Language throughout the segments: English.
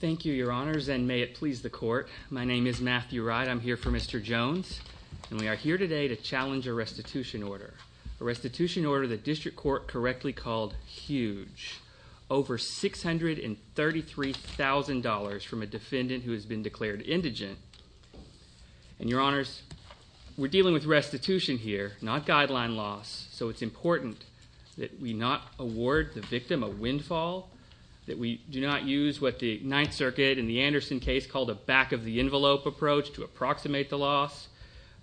Thank you, your honors, and may it please the court. My name is Matthew Wright. I'm here for Mr. Jones, and we are here today to challenge a restitution order, a restitution order the district court correctly called huge, over $633,000 from a defendant who has been declared indigent. And your honors, we're dealing with restitution here, not guideline loss, so it's important that we not award the victim a windfall, that we do not use what the Ninth Circuit in the Anderson case called a back-of-the-envelope approach to approximate the loss.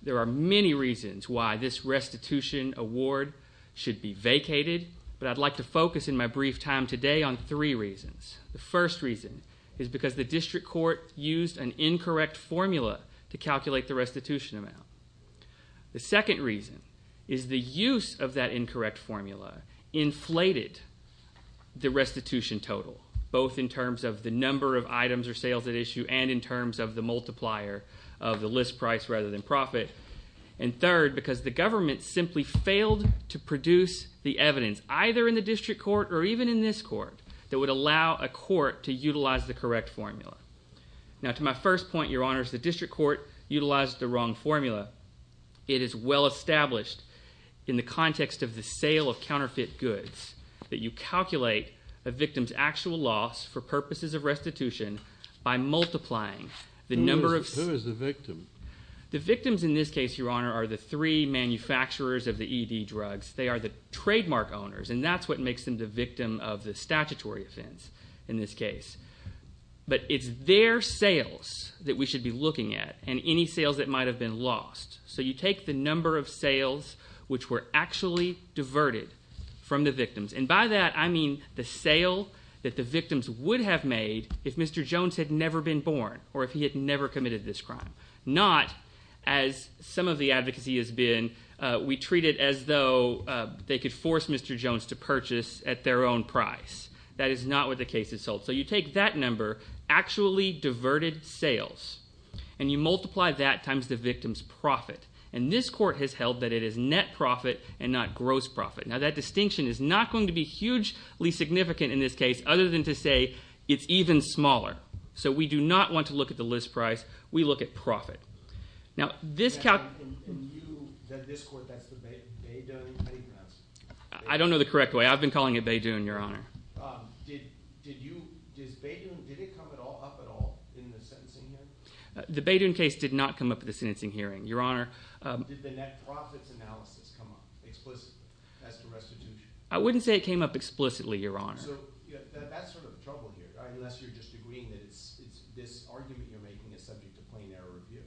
There are many reasons why this restitution award should be vacated, but I'd like to focus in my brief time today on three reasons. The first reason is because the district court used an incorrect formula to calculate the restitution amount. The second reason is the use of that incorrect formula inflated the restitution total, both in terms of the number of items or sales at issue and in terms of the multiplier of the list price rather than profit. And third, because the government simply failed to produce the evidence, either in the district court or even in this court, that would allow a court to utilize the correct formula. Now, to my first point, your honors, the district court utilized the wrong formula. It is well established in the context of the sale of counterfeit goods that you calculate a victim's actual loss for purposes of restitution by multiplying the number of... Who is the victim? The victims in this case, your honor, are the three manufacturers of the ED drugs. They are the trademark owners, and that's what makes them the victim of the statutory offense in this case. But it's their sales that we should be looking at, and any that have been lost. So you take the number of sales which were actually diverted from the victims, and by that I mean the sale that the victims would have made if Mr. Jones had never been born or if he had never committed this crime. Not, as some of the advocacy has been, we treat it as though they could force Mr. Jones to purchase at their own price. That is not what the case is sold. So you take that number, actually diverted sales, and you multiply that times the victim's profit. And this court has held that it is net profit and not gross profit. Now that distinction is not going to be hugely significant in this case other than to say it's even smaller. So we do not want to look at the list price, we look at profit. Now this... And you, that this court, that's the Baidu? How do you pronounce it? I don't know the correct way. I've been calling it Baidu, your honor. Did you, did Baidu, did it come up at all in the sentencing hearing? The Baidu case did not come up in the sentencing hearing, your honor. Did the net profits analysis come up explicitly as to restitution? I wouldn't say it came up explicitly, your honor. So that's sort of the trouble here, unless you're just agreeing that this argument you're making is subject to plain error review.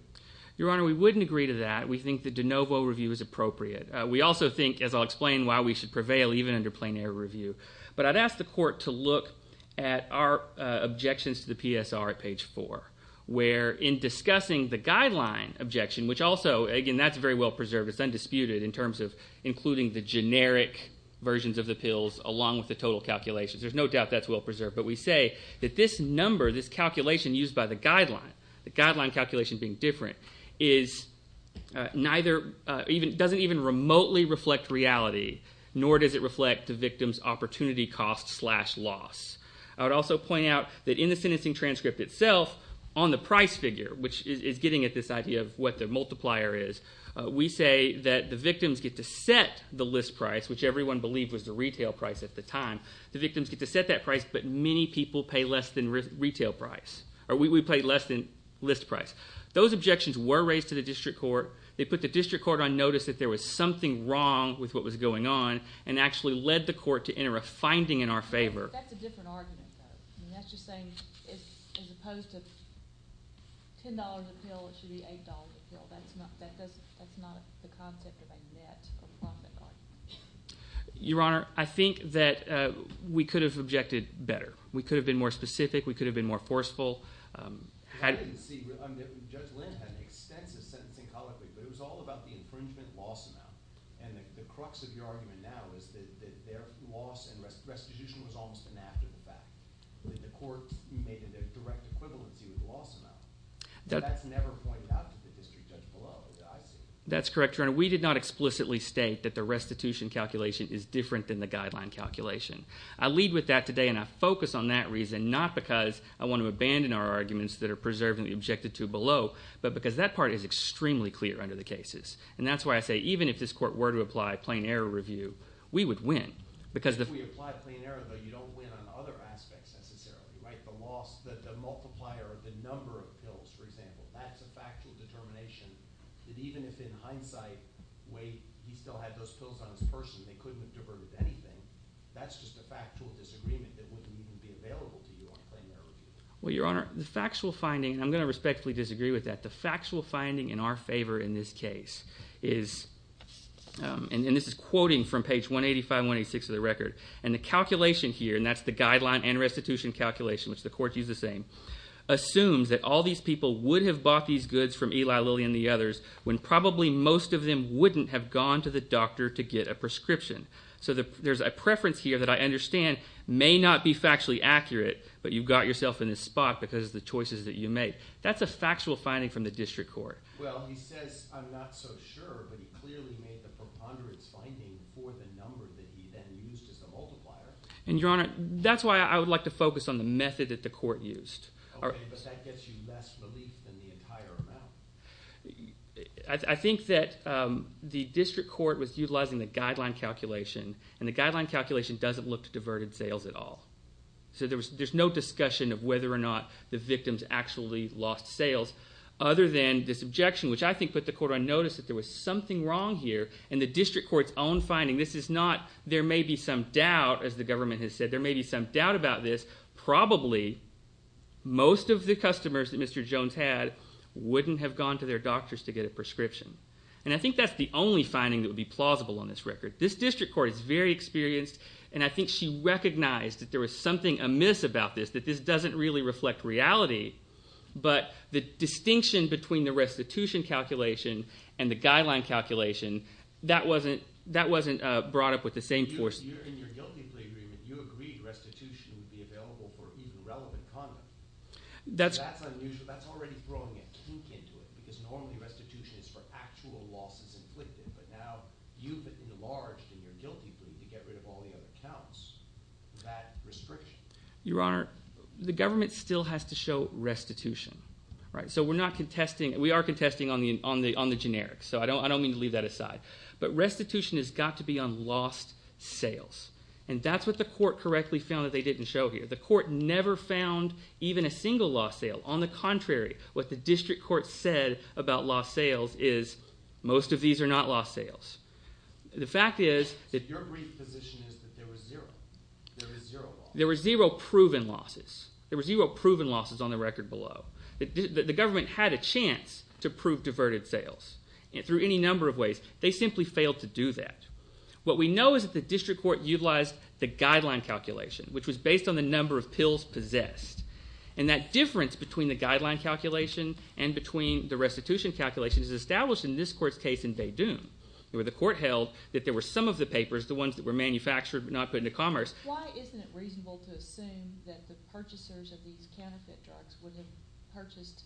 Your honor, we wouldn't agree to that. We think that de novo review is appropriate. We also think, as I'll explain why we should prevail even under plain error review. But I'd ask the court to look at our objections to the PSR at page 4, where in discussing the guideline objection, which also, again, that's very well preserved. It's undisputed in terms of including the generic versions of the pills along with the total calculations. There's no doubt that's well preserved. But we say that this number, this calculation used by the guideline, the guideline calculation being different, doesn't even remotely reflect reality, nor does it reflect the victim's opportunity cost slash loss. I would also point out that in the sentencing transcript itself, on the price figure, which is getting at this idea of what the multiplier is, we say that the victims get to set the list price, which everyone believed was the retail price at the time. The victims get to set that price, but many people pay less than list price. Those objections were raised to the district court. They put the district court on notice that there was something wrong with what was going on, and actually led the court to enter a finding in our favor. That's a different argument, though. That's just saying as opposed to $10 a pill, it should be $8 a pill. That's not the concept of a net or profit argument. Your Honor, I think that we could have objected better. We could have been more specific. We could have been more forceful. Judge Lind had an extensive sentencing colloquy, but it was all about the infringement loss amount. The crux of your argument now is that their loss and restitution was almost an after-the-fact. The court made a direct equivalency with the loss amount. That's never pointed out to the district judge below, as I see it. That's correct, Your Honor. We did not explicitly state that the restitution calculation is different than the guideline calculation. I lead with that today, and I focus on that reason, not because I want to abandon our arguments that are preserved and objected to below, but because that part is extremely clear under the cases. That's why I say even if this court were to apply plain error review, we would win. If we apply plain error, though, you don't win on other aspects, necessarily. The multiplier, the number of pills, for example. That's a factual determination that even if in hindsight, wait, he still had those pills on his person, they couldn't have diverted anything. That's just a factual disagreement that wouldn't even be available to you on plain error review. Well, Your Honor, the factual finding, and I'm going to respectfully disagree with that, the factual finding in our favor in this case is, and this is quoting from page 185 and 186 of the record, and the calculation here, and that's the guideline and restitution calculation, which the court used the same, assumes that all these people would have bought these goods from Eli Lilly and the others when probably most of them wouldn't have gone to the doctor to get a prescription. So there's a preference here that I understand may not be factually accurate, but you've got yourself in this spot because of the choices that you make. That's a factual finding from the district court. Well, he says, I'm not so sure, but he clearly made the preponderance finding for the number that he then used as the multiplier. And, Your Honor, that's why I would like to focus on the method that the court used. Okay, but that gets you less relief than the entire amount. I think that the district court was utilizing the guideline calculation, and the guideline calculation doesn't look to diverted sales at all. So there's no discussion of whether or not the victims actually lost sales other than this objection, which I think put the court on notice that there was something wrong here in the district court's own finding. This is not, there may be some doubt, as the government has said, there may be some doubt about this. Probably most of the customers that Mr. Jones had wouldn't have gone to their doctors to get a prescription. And I think that's the only finding that would be plausible on this record. This district court is very experienced, and I think she recognized that there was something amiss about this, that this doesn't really reflect reality. But the distinction between the restitution calculation and the guideline calculation, that wasn't brought up with the same force. In your guilty plea agreement, you agreed restitution would be available for even relevant content. That's unusual, that's already throwing a kink into it, because normally restitution is for actual losses inflicted, but now you've enlarged in your guilty plea to get rid of all the other counts, that restriction. Your Honor, the government still has to show restitution. So we're not contesting, we are contesting on the generic, so I don't mean to leave that aside. But restitution has got to be on lost sales. And that's what the court correctly found that they didn't show here. The court never found even a single lost sale. On the contrary, what the district court said about lost sales is most of these are not lost sales. The fact is that... Your brief position is that there were zero losses. There were zero proven losses. There were zero proven losses on the record below. The government had a chance to prove diverted sales. Through any number of ways, they simply failed to do that. What we know is that the district court utilized the guideline calculation, which was based on the number of pills possessed. And that difference between the guideline calculation and between the restitution calculation is established in this court's case in Bay Dune, where the court held that there were some of the papers, the ones that were manufactured but not put into commerce... Why isn't it reasonable to assume that the purchasers of these counterfeit drugs would have purchased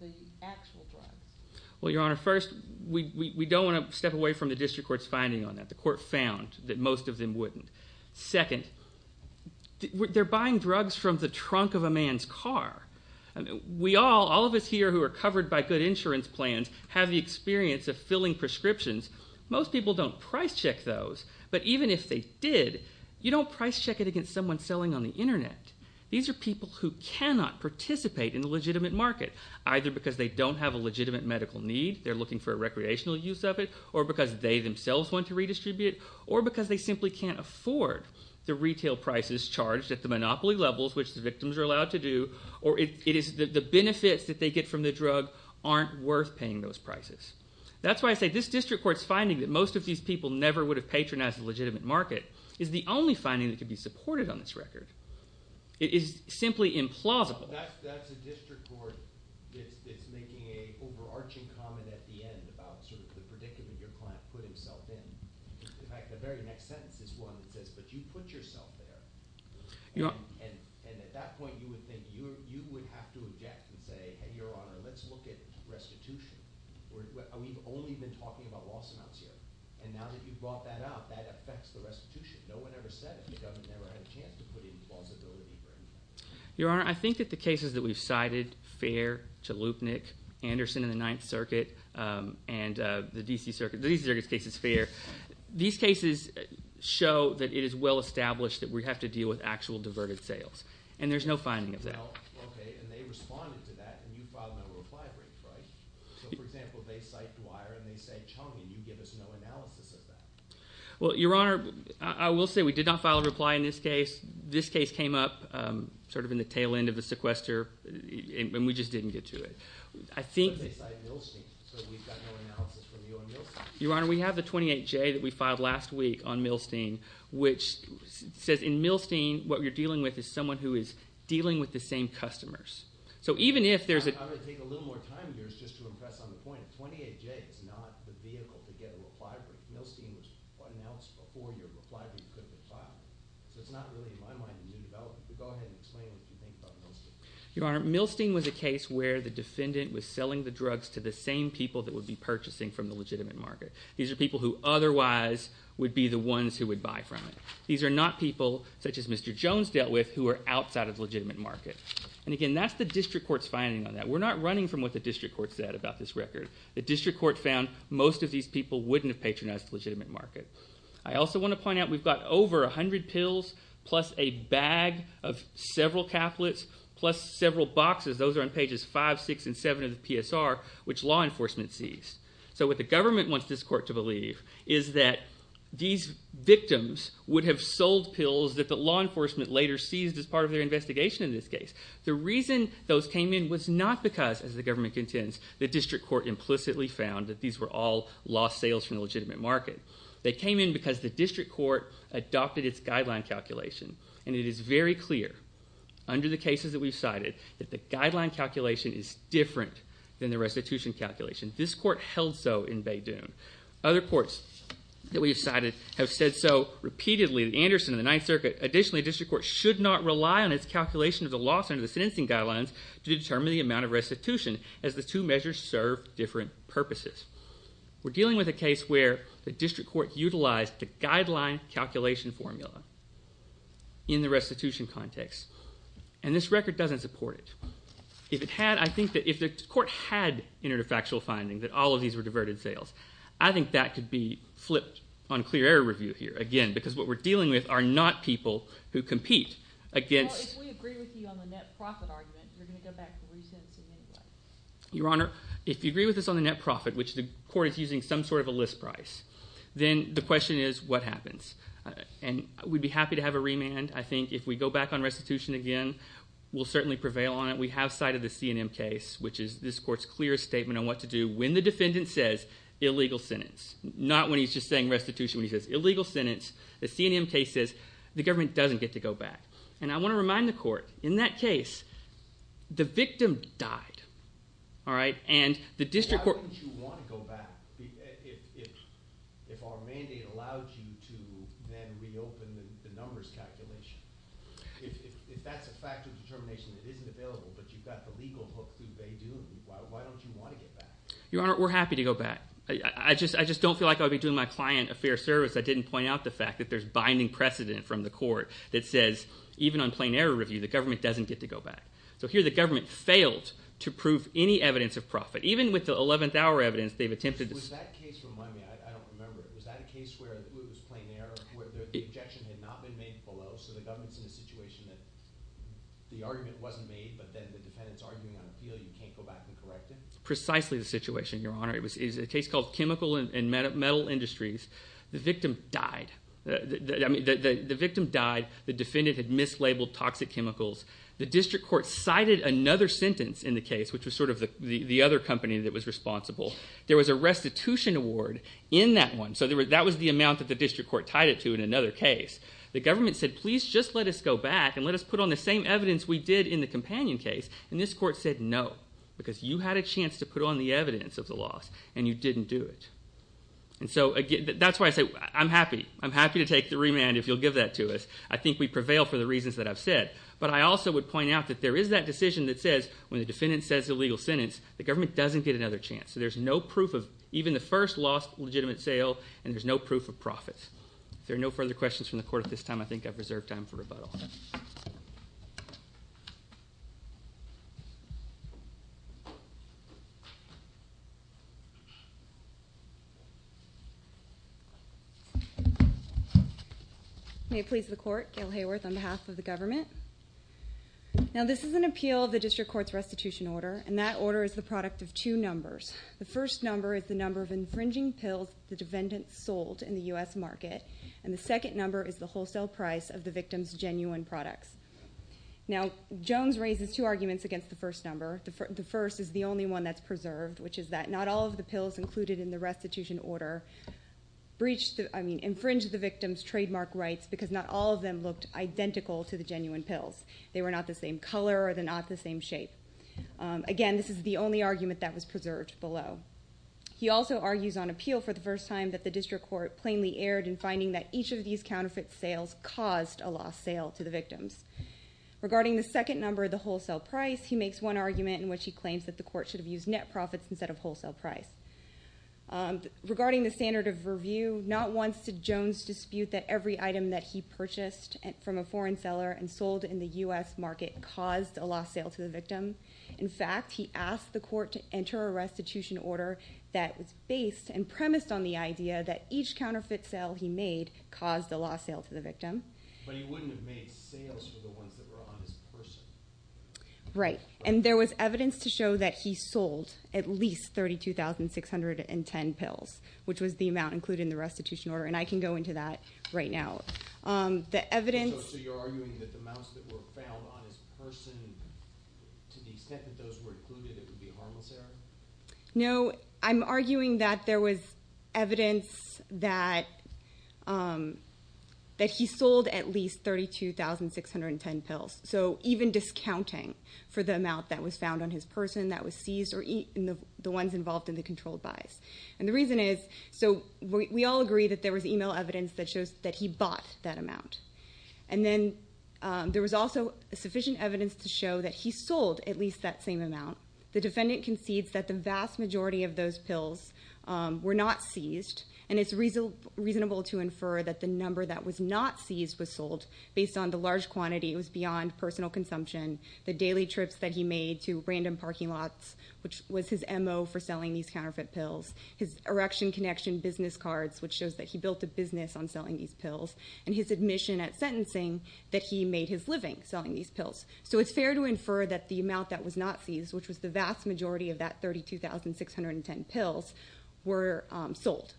the actual drugs? Well, Your Honor, first, we don't want to step away from the district court's finding on that. The court found that most of them wouldn't. Second, they're buying drugs from the trunk of a man's car. We all, all of us here who are covered by good insurance plans, have the experience of filling prescriptions. Most people don't price check those. But even if they did, you don't price check it against someone selling on the Internet. These are people who cannot participate in the legitimate market, either because they don't have a legitimate medical need, they're looking for a recreational use of it, or because they themselves want to redistribute it, or because they simply can't afford the retail prices charged at the monopoly levels, which the victims are allowed to do, or it is the benefits that they get from the drug aren't worth paying those prices. That's why I say this district court's finding that most of these people never would have patronized the legitimate market is the only finding that could be supported on this record. It is simply implausible. Well, that's a district court that's making an overarching comment at the end about sort of the predicament your client put himself in. In fact, the very next sentence is one that says, but you put yourself there, and at that point you would think you would have to object and say, hey, Your Honor, let's look at restitution. We've only been talking about loss amounts here, and now that you've brought that up, that affects the restitution. No one ever said it. The government never had a chance to put in plausibility for anything. Your Honor, I think that the cases that we've cited, Fair, Chalupnik, Anderson in the Ninth Circuit, and the D.C. Circuit, the D.C. Circuit's case is Fair. These cases show that it is well established that we have to deal with actual diverted sales, and there's no finding of that. Well, okay, and they responded to that, and you filed a reply brief, right? So, for example, they cite Dwyer, and they cite Chong, and you give us no analysis of that. Well, Your Honor, I will say we did not file a reply in this case. This case came up sort of in the tail end of the sequester, and we just didn't get to it. But they cite Milstein, so we've got no analysis from you on Milstein. Your Honor, we have the 28J that we filed last week on Milstein, which says in Milstein what you're dealing with is someone who is dealing with the same customers. I'm going to take a little more time of yours just to impress on the point. 28J is not the vehicle to get a reply brief. Milstein was announced before your reply brief could have been filed. So it's not really, in my mind, a new development. But go ahead and explain what you think about Milstein. Your Honor, Milstein was a case where the defendant was selling the drugs to the same people that would be purchasing from the legitimate market. These are people who otherwise would be the ones who would buy from it. These are not people such as Mr. Jones dealt with who are outside of the legitimate market. And again, that's the district court's finding on that. We're not running from what the district court said about this record. The district court found most of these people wouldn't have patronized the legitimate market. I also want to point out we've got over 100 pills plus a bag of several caplets plus several boxes. Those are on pages 5, 6, and 7 of the PSR, which law enforcement seized. So what the government wants this court to believe is that these victims would have sold pills that the law enforcement later seized as part of their investigation in this case. The reason those came in was not because, as the government contends, the district court implicitly found that these were all lost sales from the legitimate market. They came in because the district court adopted its guideline calculation. And it is very clear under the cases that we've cited that the guideline calculation is different than the restitution calculation. This court held so in Bay Dune. Other courts that we've cited have said so repeatedly. Anderson and the Ninth Circuit. Additionally, the district court should not rely on its calculation of the loss under the sentencing guidelines to determine the amount of restitution as the two measures serve different purposes. We're dealing with a case where the district court utilized the guideline calculation formula in the restitution context. And this record doesn't support it. If the court had entered a factual finding that all of these were diverted sales, I think that could be flipped on clear error review here. Again, because what we're dealing with are not people who compete against... If we agree with you on the net profit argument, you're going to go back to resentencing anyway. Your Honor, if you agree with us on the net profit, which the court is using some sort of a list price, then the question is what happens. And we'd be happy to have a remand. I think if we go back on restitution again, we'll certainly prevail on it. We have cited the CNM case, which is this court's clear statement on what to do when the defendant says illegal sentence. Not when he's just saying restitution. When he says illegal sentence, the CNM case says the government doesn't get to go back. And I want to remind the court, in that case, the victim died. And the district court... Why wouldn't you want to go back if our mandate allowed you to then reopen the numbers calculation? If that's a factor of determination that isn't available, but you've got the legal hook through Bay Dune, why don't you want to get back? Your Honor, we're happy to go back. I just don't feel like I would be doing my client a fair service if I didn't point out the fact that there's binding precedent from the court that says even on plain error review, the government doesn't get to go back. So here the government failed to prove any evidence of profit. Even with the 11th hour evidence, they've attempted to... Was that case, remind me, I don't remember, was that a case where it was plain error, where the objection had not been made below, so the government's in a situation that the argument wasn't made, but then the defendant's arguing on appeal, you can't go back and correct it? Precisely the situation, Your Honor. It was a case called Chemical and Metal Industries. The victim died. The victim died. The defendant had mislabeled toxic chemicals. The district court cited another sentence in the case, which was sort of the other company that was responsible. There was a restitution award in that one, so that was the amount that the district court tied it to in another case. The government said, please just let us go back and let us put on the same evidence we did in the companion case, and this court said no, because you had a chance to put on the evidence of the loss, and you didn't do it. That's why I say I'm happy. I'm happy to take the remand if you'll give that to us. I think we prevail for the reasons that I've said, but I also would point out that there is that decision that says when the defendant says a legal sentence, the government doesn't get another chance, so there's no proof of even the first lost legitimate sale, and there's no proof of profits. If there are no further questions from the court at this time, I think I've reserved time for rebuttal. May it please the court. Gail Hayworth on behalf of the government. Now, this is an appeal of the district court's restitution order, and that order is the product of two numbers. The first number is the number of infringing pills the defendant sold in the U.S. market, and the second number is the wholesale price of the victim's genuine products. Now, Jones raises two arguments against the first number. The first is the only one that's preserved, which is that not all of the pills included in the restitution order infringed the victim's trademark rights because not all of them looked identical to the genuine pills. They were not the same color or they're not the same shape. Again, this is the only argument that was preserved below. He also argues on appeal for the first time that the district court plainly erred in finding that each of these counterfeit sales caused a lost sale to the victims. Regarding the second number, the wholesale price, he makes one argument in which he claims that the court should have used net profits instead of wholesale price. Regarding the standard of review, not once did Jones dispute that every item that he purchased from a foreign seller and sold in the U.S. market caused a lost sale to the victim. In fact, he asked the court to enter a restitution order that was based and premised on the idea that each counterfeit sale he made caused a lost sale to the victim. But he wouldn't have made sales for the ones that were on his person. Right, and there was evidence to show that he sold at least 32,610 pills, which was the amount included in the restitution order, and I can go into that right now. The evidence... So you're arguing that the amounts that were found on his person, to the extent that those were included, it would be harmless error? No, I'm arguing that there was evidence that he sold at least 32,610 pills. So even discounting for the amount that was found on his person that was seized or the ones involved in the controlled buys. And the reason is... So we all agree that there was email evidence that shows that he bought that amount. And then there was also sufficient evidence to show that he sold at least that same amount. The defendant concedes that the vast majority of those pills were not seized, and it's reasonable to infer that the number that was not seized was sold based on the large quantity. It was beyond personal consumption. The daily trips that he made to random parking lots, which was his M.O. for selling these counterfeit pills, his Erection Connection business cards, which shows that he built a business on selling these pills, and his admission at sentencing that he made his living selling these pills. So it's fair to infer that the amount that was not seized, which was the vast majority of that 32,610 pills, were sold.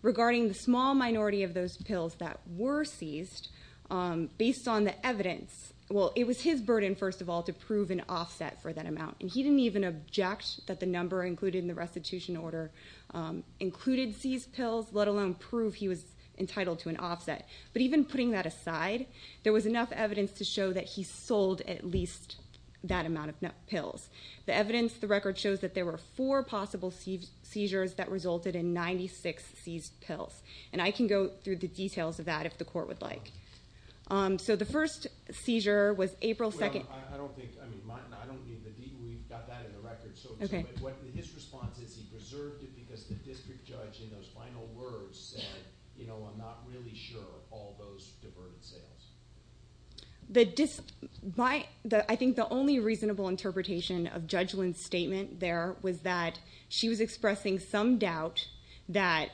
Regarding the small minority of those pills that were seized, based on the evidence... Well, it was his burden, first of all, to prove an offset for that amount. And he didn't even object that the number included in the restitution order included seized pills, let alone prove he was entitled to an offset. But even putting that aside, there was enough evidence to show that he sold at least that amount of pills. The evidence, the record shows that there were four possible seizures that resulted in 96 seized pills. And I can go through the details of that if the court would like. So the first seizure was April 2nd... Well, I don't think... I mean, we've got that in the record. But his response is he preserved it because the district judge, in those final words, said, you know, I'm not really sure of all those diverted sales. I think the only reasonable interpretation of Judge Lynn's statement there was that she was expressing some doubt that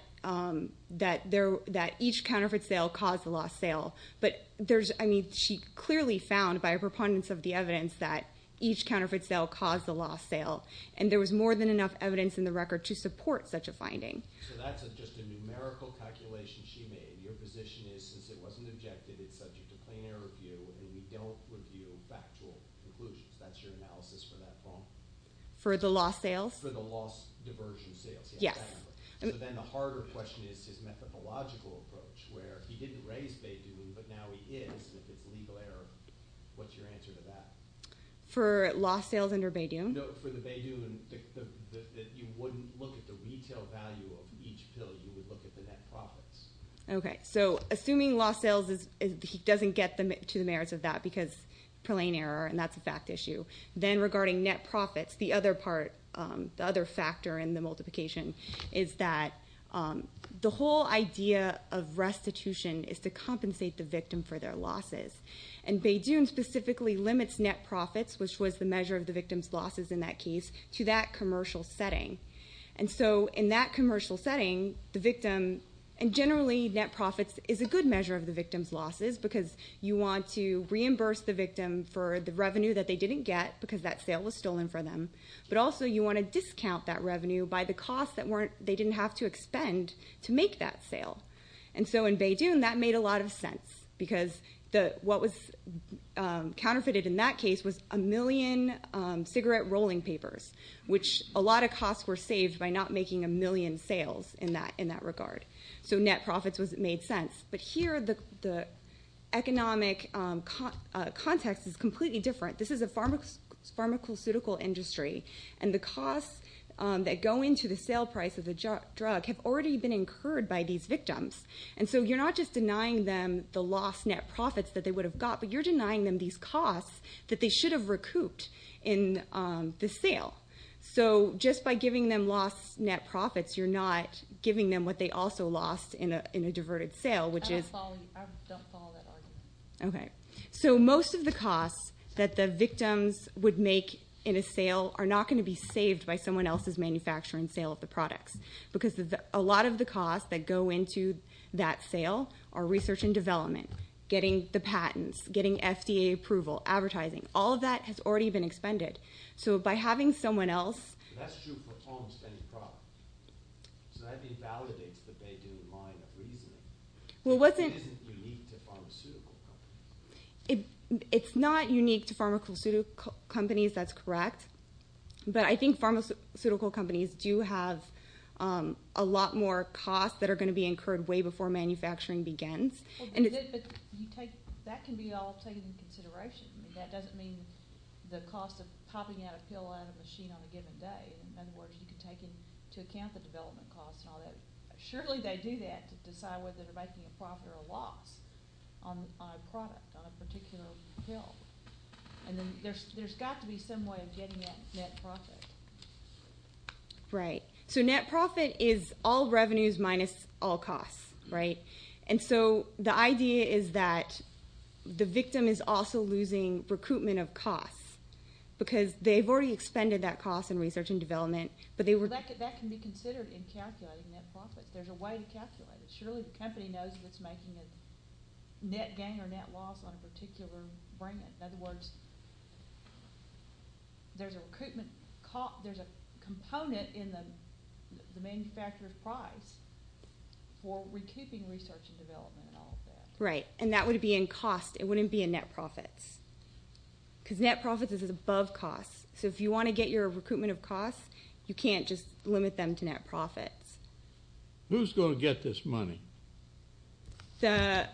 each counterfeit sale caused the lost sale. But there's... I mean, she clearly found, by a preponderance of the evidence, that each counterfeit sale caused the lost sale. And there was more than enough evidence in the record to support such a finding. So that's just a numerical calculation she made. Your position is, since it wasn't objected, it's subject to plain error review, and we don't review factual conclusions. That's your analysis for that phone? For the lost sales? For the lost diversion sales. Yes. So then the harder question is his methodological approach, where he didn't raise Bay Dune, but now he is, and if it's legal error, what's your answer to that? For lost sales under Bay Dune? No, for the Bay Dune, you wouldn't look at the retail value of each pill. You would look at the net profits. Okay, so assuming lost sales, he doesn't get to the merits of that because plain error, and that's a fact issue. Then regarding net profits, the other part, the other factor in the multiplication is that the whole idea of restitution is to compensate the victim for their losses. And Bay Dune specifically limits net profits, which was the measure of the victim's losses in that case, to that commercial setting. And so in that commercial setting, the victim, and generally net profits, is a good measure of the victim's losses because you want to reimburse the victim for the revenue that they didn't get because that sale was stolen from them, but also you want to discount that revenue by the costs that they didn't have to expend to make that sale. And so in Bay Dune, that made a lot of sense because what was counterfeited in that case was a million cigarette rolling papers, which a lot of costs were saved by not making a million sales in that regard. So net profits made sense. But here the economic context is completely different. This is a pharmaceutical industry, and the costs that go into the sale price of the drug have already been incurred by these victims. And so you're not just denying them the lost net profits that they would have got, but you're denying them these costs that they should have recouped in the sale. So just by giving them lost net profits, you're not giving them what they also lost in a diverted sale, which is... I don't follow that argument. Okay. So most of the costs that the victims would make in a sale are not going to be saved by someone else's manufacturing sale of the products because a lot of the costs that go into that sale are research and development, getting the patents, getting FDA approval, advertising. All of that has already been expended. So by having someone else... That's true for home spending product. So that invalidates the Beidoum line of reasoning. It isn't unique to pharmaceutical companies. It's not unique to pharmaceutical companies. That's correct. But I think pharmaceutical companies do have a lot more costs that are going to be incurred way before manufacturing begins. But that can be all taken into consideration. I mean, that doesn't mean the cost of popping out a pill out of a machine on a given day. In other words, you can take into account the development costs and all that. Surely they do that to decide whether they're making a profit or a loss on a product, on a particular pill. And then there's got to be some way of getting that net profit. Right. So net profit is all revenues minus all costs, right? And so the idea is that the victim is also losing recoupment of costs because they've already expended that cost in research and development, but they were... That can be considered in calculating net profits. There's a way to calculate it. Surely the company knows that it's making a net gain or net loss on a particular brand. In other words, there's a recoupment cost. There's a component in the manufacturer's price for recouping research and development and all of that. Right. And that would be in cost. It wouldn't be in net profits because net profits is above costs. So if you want to get your recoupment of costs, you can't just limit them to net profits. Who's going to get this money? The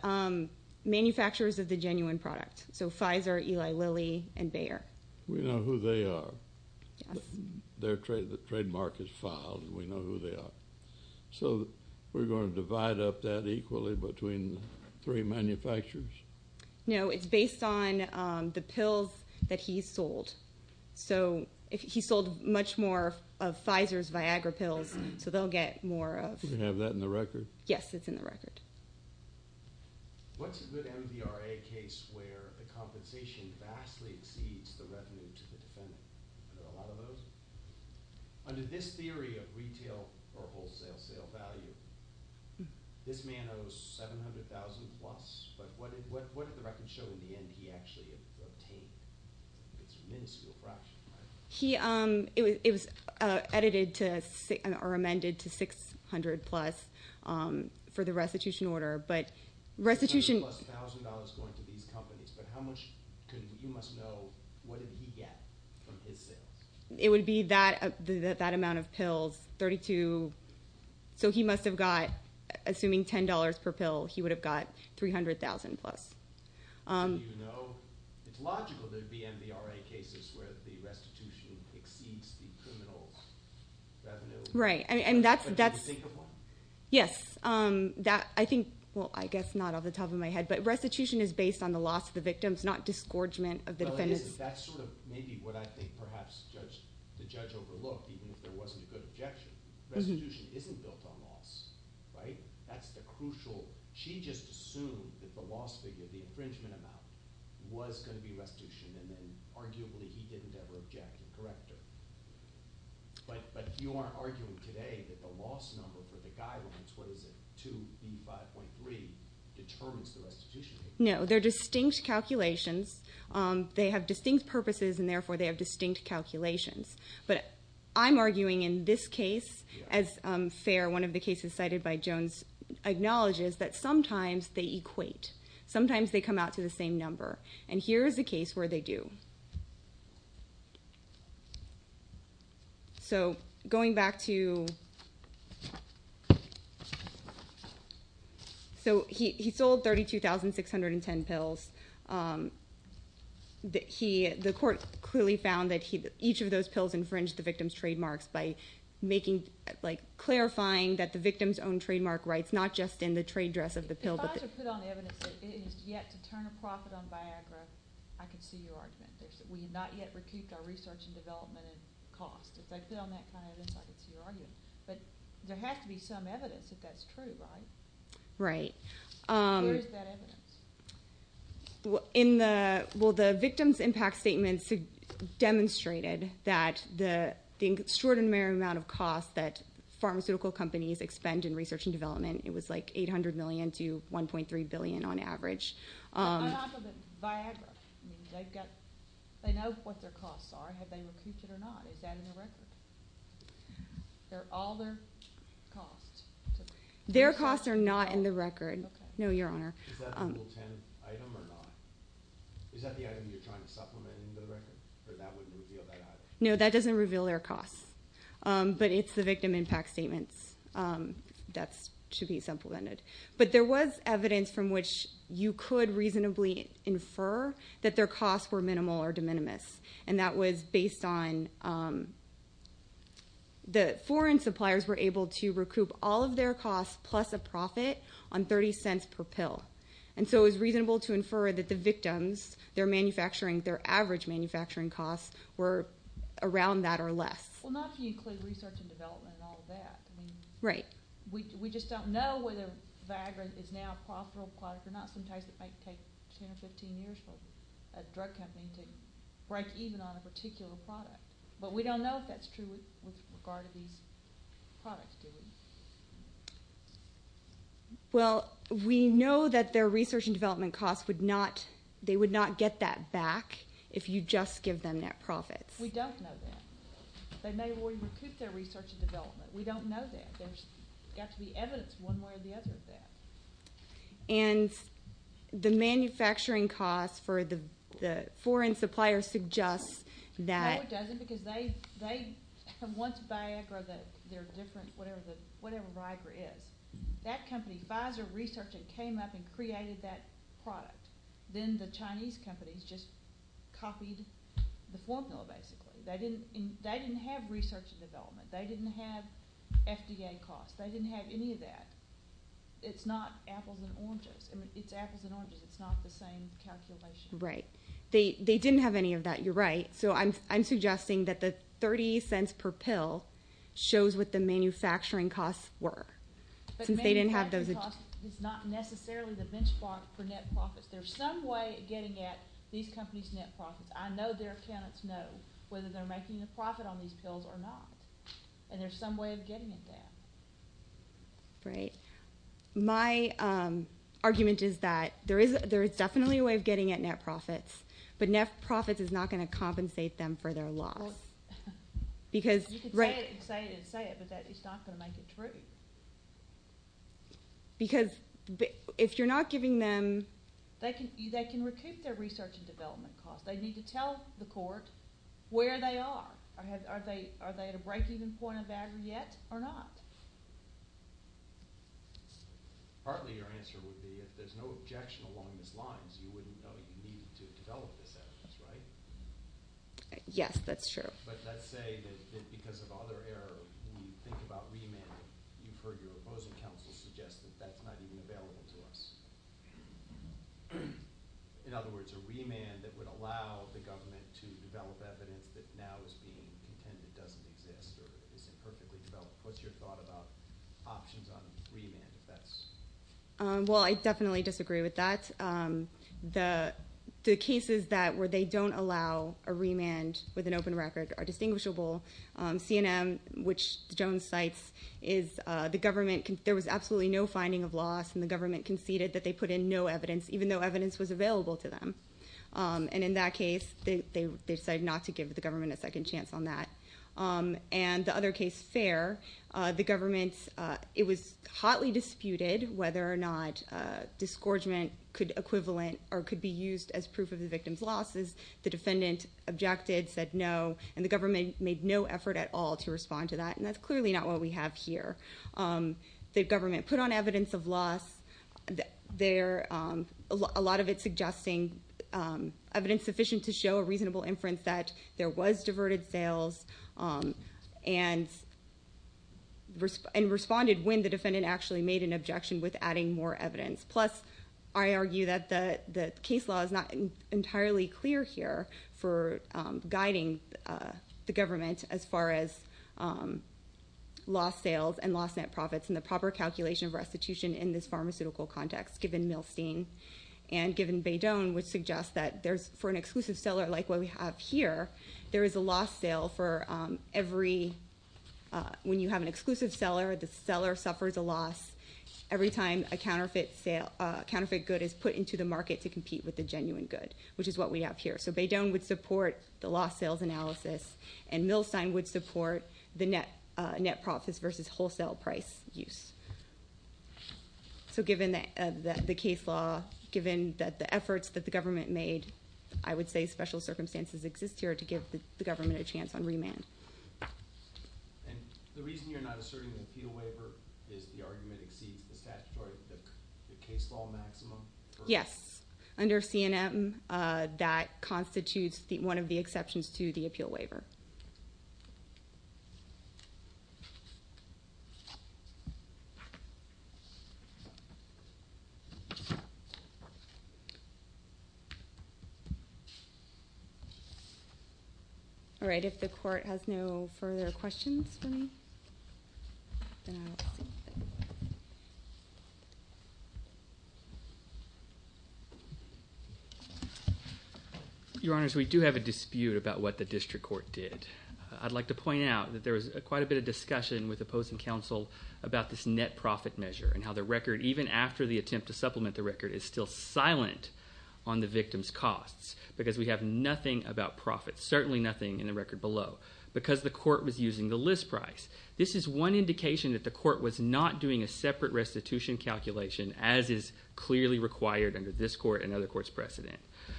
manufacturers of the genuine product, so Pfizer, Eli Lilly, and Bayer. We know who they are. Their trademark is filed, and we know who they are. So we're going to divide up that equally between the three manufacturers? No, it's based on the pills that he sold. So he sold much more of Pfizer's Viagra pills, so they'll get more of... Do we have that in the record? Yes, it's in the record. What's a good MVRA case where the compensation vastly exceeds the revenue to the defendant? Are there a lot of those? Under this theory of retail or wholesale sale value, this man owes $700,000 plus. But what did the record show in the end he actually obtained? It's a miniscule fraction, right? It was edited or amended to $600,000 plus for the restitution order. $600,000 plus going to these companies, but you must know, what did he get from his sales? It would be that amount of pills, 32. So he must have got, assuming $10 per pill, he would have got $300,000 plus. It's logical there would be MVRA cases where the restitution exceeds the criminal revenue. Right, and that's... Can you think of one? Yes. I think, well, I guess not off the top of my head, but restitution is based on the loss of the victims, not disgorgement of the defendants. That's sort of maybe what I think perhaps the judge overlooked, even if there wasn't a good objection. Restitution isn't built on loss, right? That's the crucial—she just assumed that the loss figure, the infringement amount, was going to be restitution, and then arguably he didn't ever object and correct her. But you are arguing today that the loss number for the guidelines, what is it, 2B5.3, determines the restitution. No, they're distinct calculations. They have distinct purposes, and therefore they have distinct calculations. But I'm arguing in this case, as FAIR, one of the cases cited by Jones, acknowledges that sometimes they equate. Sometimes they come out to the same number, and here is a case where they do. Okay. So going back to—so he sold 32,610 pills. The court clearly found that each of those pills infringed the victim's trademarks by making— like clarifying that the victim's own trademark rights, not just in the trade dress of the pill. If I were to put on evidence that it is yet to turn a profit on Viagra, I could see your argument. We have not yet recouped our research and development and cost. If I put on that kind of evidence, I could see your argument. But there has to be some evidence if that's true, right? Right. Where is that evidence? Well, the victim's impact statements demonstrated that the extraordinary amount of cost that pharmaceutical companies expend in research and development, it was like $800 million to $1.3 billion on average. But on top of it, Viagra, they've got—they know what their costs are. Have they recouped it or not? Is that in their record? They're all their costs. Their costs are not in the record. Okay. No, Your Honor. Is that the Rule 10 item or not? Is that the item you're trying to supplement into the record? Or that wouldn't reveal that either? No, that doesn't reveal their costs. But it's the victim impact statements that should be supplemented. But there was evidence from which you could reasonably infer that their costs were minimal or de minimis, and that was based on the foreign suppliers were able to recoup all of their costs plus a profit on $0.30 per pill. And so it was reasonable to infer that the victims, their manufacturing, their average manufacturing costs were around that or less. Well, not to include research and development and all of that. Right. We just don't know whether Viagra is now a profitable product or not. Sometimes it might take 10 or 15 years for a drug company to break even on a particular product. But we don't know if that's true with regard to these products, do we? Well, we know that their research and development costs would not get that back if you just give them net profits. We don't know that. They may have already recouped their research and development. We don't know that. There's got to be evidence one way or the other of that. And the manufacturing costs for the foreign suppliers suggests that. No, it doesn't because they have once Viagra, their different whatever Viagra is, that company, Pfizer Research, came up and created that product. Then the Chinese companies just copied the formula basically. They didn't have research and development. They didn't have FDA costs. They didn't have any of that. It's not apples and oranges. It's apples and oranges. It's not the same calculation. Right. They didn't have any of that. You're right. So I'm suggesting that the $0.30 per pill shows what the manufacturing costs were. But manufacturing costs is not necessarily the benchmark for net profits. There's some way of getting at these companies' net profits. I know their accountants know whether they're making a profit on these pills or not, and there's some way of getting at that. Right. My argument is that there is definitely a way of getting at net profits, but net profits is not going to compensate them for their loss. You could say it and say it and say it, but that is not going to make it true. Because if you're not giving them – They can recoup their research and development costs. They need to tell the court where they are. Are they at a break-even point of Viagra yet or not? Partly your answer would be if there's no objection along those lines, you wouldn't know you needed to develop this evidence, right? Yes, that's true. But let's say that because of other error, when you think about remanding, you've heard your opposing counsel suggest that that's not even available to us. In other words, a remand that would allow the government to develop evidence that now is being contended doesn't exist or isn't perfectly developed. What's your thought about options on remand if that's? Well, I definitely disagree with that. The cases where they don't allow a remand with an open record are distinguishable. CNM, which Jones cites, is the government – there was absolutely no finding of loss, and the government conceded that they put in no evidence, even though evidence was available to them. And in that case, they decided not to give the government a second chance on that. And the other case, Fair, the government – it was hotly disputed whether or not disgorgement could equivalent or could be used as proof of the victim's losses. The defendant objected, said no, and the government made no effort at all to respond to that, and that's clearly not what we have here. The government put on evidence of loss. A lot of it suggesting evidence sufficient to show a reasonable inference that there was diverted sales, and responded when the defendant actually made an objection with adding more evidence. Plus, I argue that the case law is not entirely clear here for guiding the government as far as lost sales and lost net profits and the proper calculation of restitution in this pharmaceutical context, given Milstein and given Baydon, which suggests that for an exclusive seller like what we have here, there is a lost sale for every – when you have an exclusive seller, the seller suffers a loss every time a counterfeit good is put into the market to compete with the genuine good, which is what we have here. So Baydon would support the lost sales analysis, and Milstein would support the net profits versus wholesale price use. So given the case law, given the efforts that the government made, I would say special circumstances exist here to give the government a chance on remand. And the reason you're not asserting the appeal waiver is the argument exceeds the statutory – the case law maximum? Yes. Under CNM, that constitutes one of the exceptions to the appeal waiver. All right. If the court has no further questions for me, then I will proceed. Your Honors, we do have a dispute about what the district court did. I'd like to point out that there was quite a bit of discussion with opposing counsel about this net profit measure and how the record, even after the attempt to supplement the record, is still silent on the victim's costs because we have nothing about profits, certainly nothing in the record below, because the court was using the list price. This is one indication that the court was not doing a separate restitution calculation, as is clearly required under this court and other courts' precedent.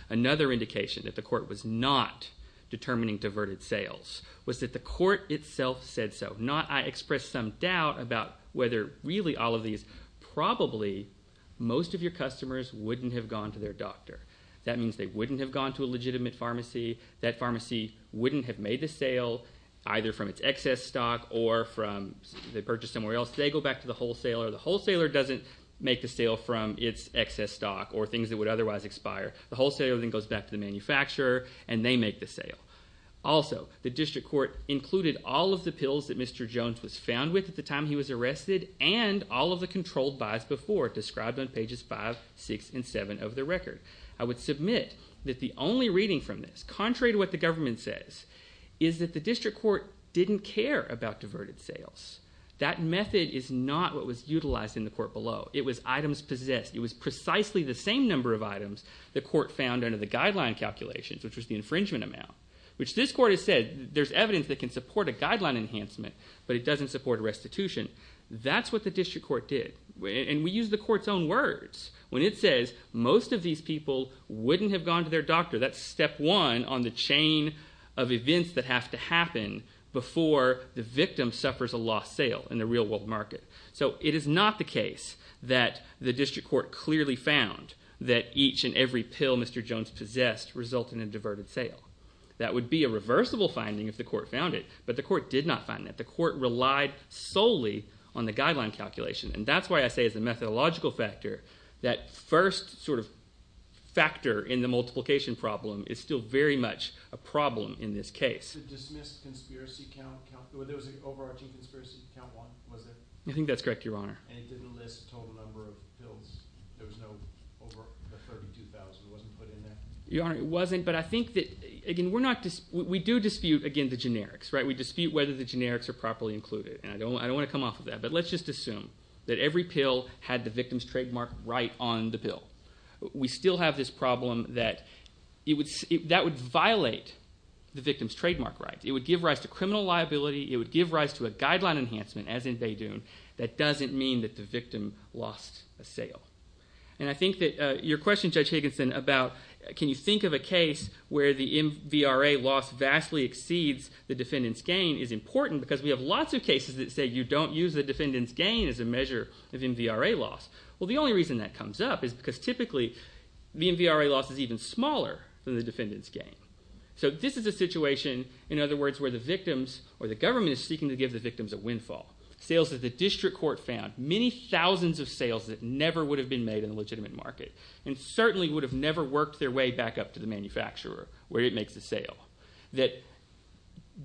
Another indication that the court was not determining diverted sales was that the court itself said so, not I express some doubt about whether really all of these probably, most of your customers wouldn't have gone to their doctor. That means they wouldn't have gone to a legitimate pharmacy. That pharmacy wouldn't have made the sale either from its excess stock or from they purchased somewhere else. They go back to the wholesaler. The wholesaler doesn't make the sale from its excess stock or things that would otherwise expire. The wholesaler then goes back to the manufacturer, and they make the sale. Also, the district court included all of the pills that Mr. Jones was found with at the time he was arrested and all of the controlled buys before, described on pages 5, 6, and 7 of the record. I would submit that the only reading from this, contrary to what the government says, is that the district court didn't care about diverted sales. That method is not what was utilized in the court below. It was items possessed. It was precisely the same number of items the court found under the guideline calculations, which was the infringement amount, which this court has said there's evidence that can support a guideline enhancement, but it doesn't support restitution. That's what the district court did, and we use the court's own words when it says most of these people wouldn't have gone to their doctor. That's step one on the chain of events that have to happen before the victim suffers a lost sale in the real world market. So it is not the case that the district court clearly found that each and every pill Mr. Jones possessed resulted in a diverted sale. That would be a reversible finding if the court found it, but the court did not find that. The court relied solely on the guideline calculation, and that's why I say as a methodological factor that first sort of factor in the multiplication problem is still very much a problem in this case. The dismissed conspiracy count, there was an overarching conspiracy count, wasn't there? I think that's correct, Your Honor. And it didn't list the total number of pills. There was no over 32,000. It wasn't put in there? Your Honor, it wasn't, but I think that, again, we do dispute, again, the generics. We dispute whether the generics are properly included, and I don't want to come off of that, but let's just assume that every pill had the victim's trademark right on the pill. We still have this problem that that would violate the victim's trademark right. It would give rise to criminal liability. It would give rise to a guideline enhancement, as in Baydoun. That doesn't mean that the victim lost a sale. And I think that your question, Judge Higginson, about can you think of a case where the MVRA loss vastly exceeds the defendant's gain is important because we have lots of cases that say you don't use the defendant's gain as a measure of MVRA loss. Well, the only reason that comes up is because typically MVRA loss is even smaller than the defendant's gain. So this is a situation, in other words, where the government is seeking to give the victims a windfall, sales that the district court found, many thousands of sales that never would have been made in a legitimate market and certainly would have never worked their way back up to the manufacturer where it makes the sale, that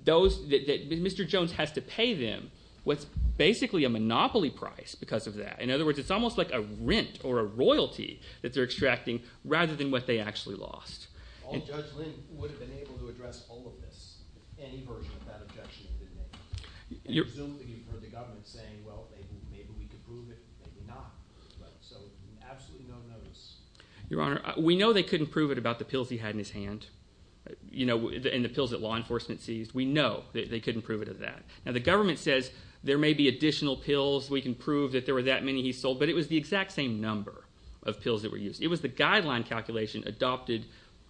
Mr. Jones has to pay them what's basically a monopoly price because of that. In other words, it's almost like a rent or a royalty that they're extracting rather than what they actually lost. All Judge Lind would have been able to address all of this if any version of that objection had been made. Presumably you've heard the government saying, well, maybe we could prove it, maybe not. So absolutely no notice. Your Honor, we know they couldn't prove it about the pills he had in his hand and the pills that law enforcement seized. We know they couldn't prove it of that. Now the government says there may be additional pills, we can prove that there were that many he sold, but it was the exact same number of pills that were used. It was the guideline calculation adopted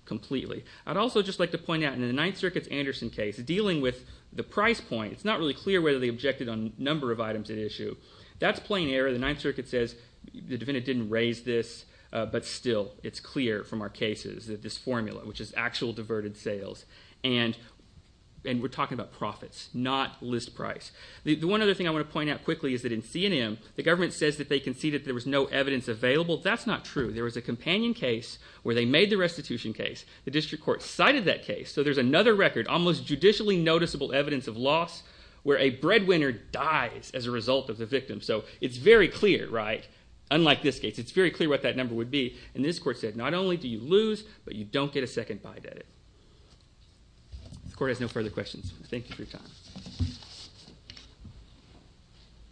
completely. I'd also just like to point out in the Ninth Circuit's Anderson case, dealing with the price point, it's not really clear whether they objected on a number of items at issue. That's plain error. The Ninth Circuit says the defendant didn't raise this, but still it's clear from our cases that this formula, which is actual diverted sales, and we're talking about profits, not list price. The one other thing I want to point out quickly is that in C&M, the government says that they conceded that there was no evidence available. That's not true. There was a companion case where they made the restitution case. The district court cited that case. So there's another record, almost judicially noticeable evidence of loss, where a breadwinner dies as a result of the victim. So it's very clear, right? Unlike this case, it's very clear what that number would be. And this court said, not only do you lose, but you don't get a second bite at it. The court has no further questions. Thank you for your time.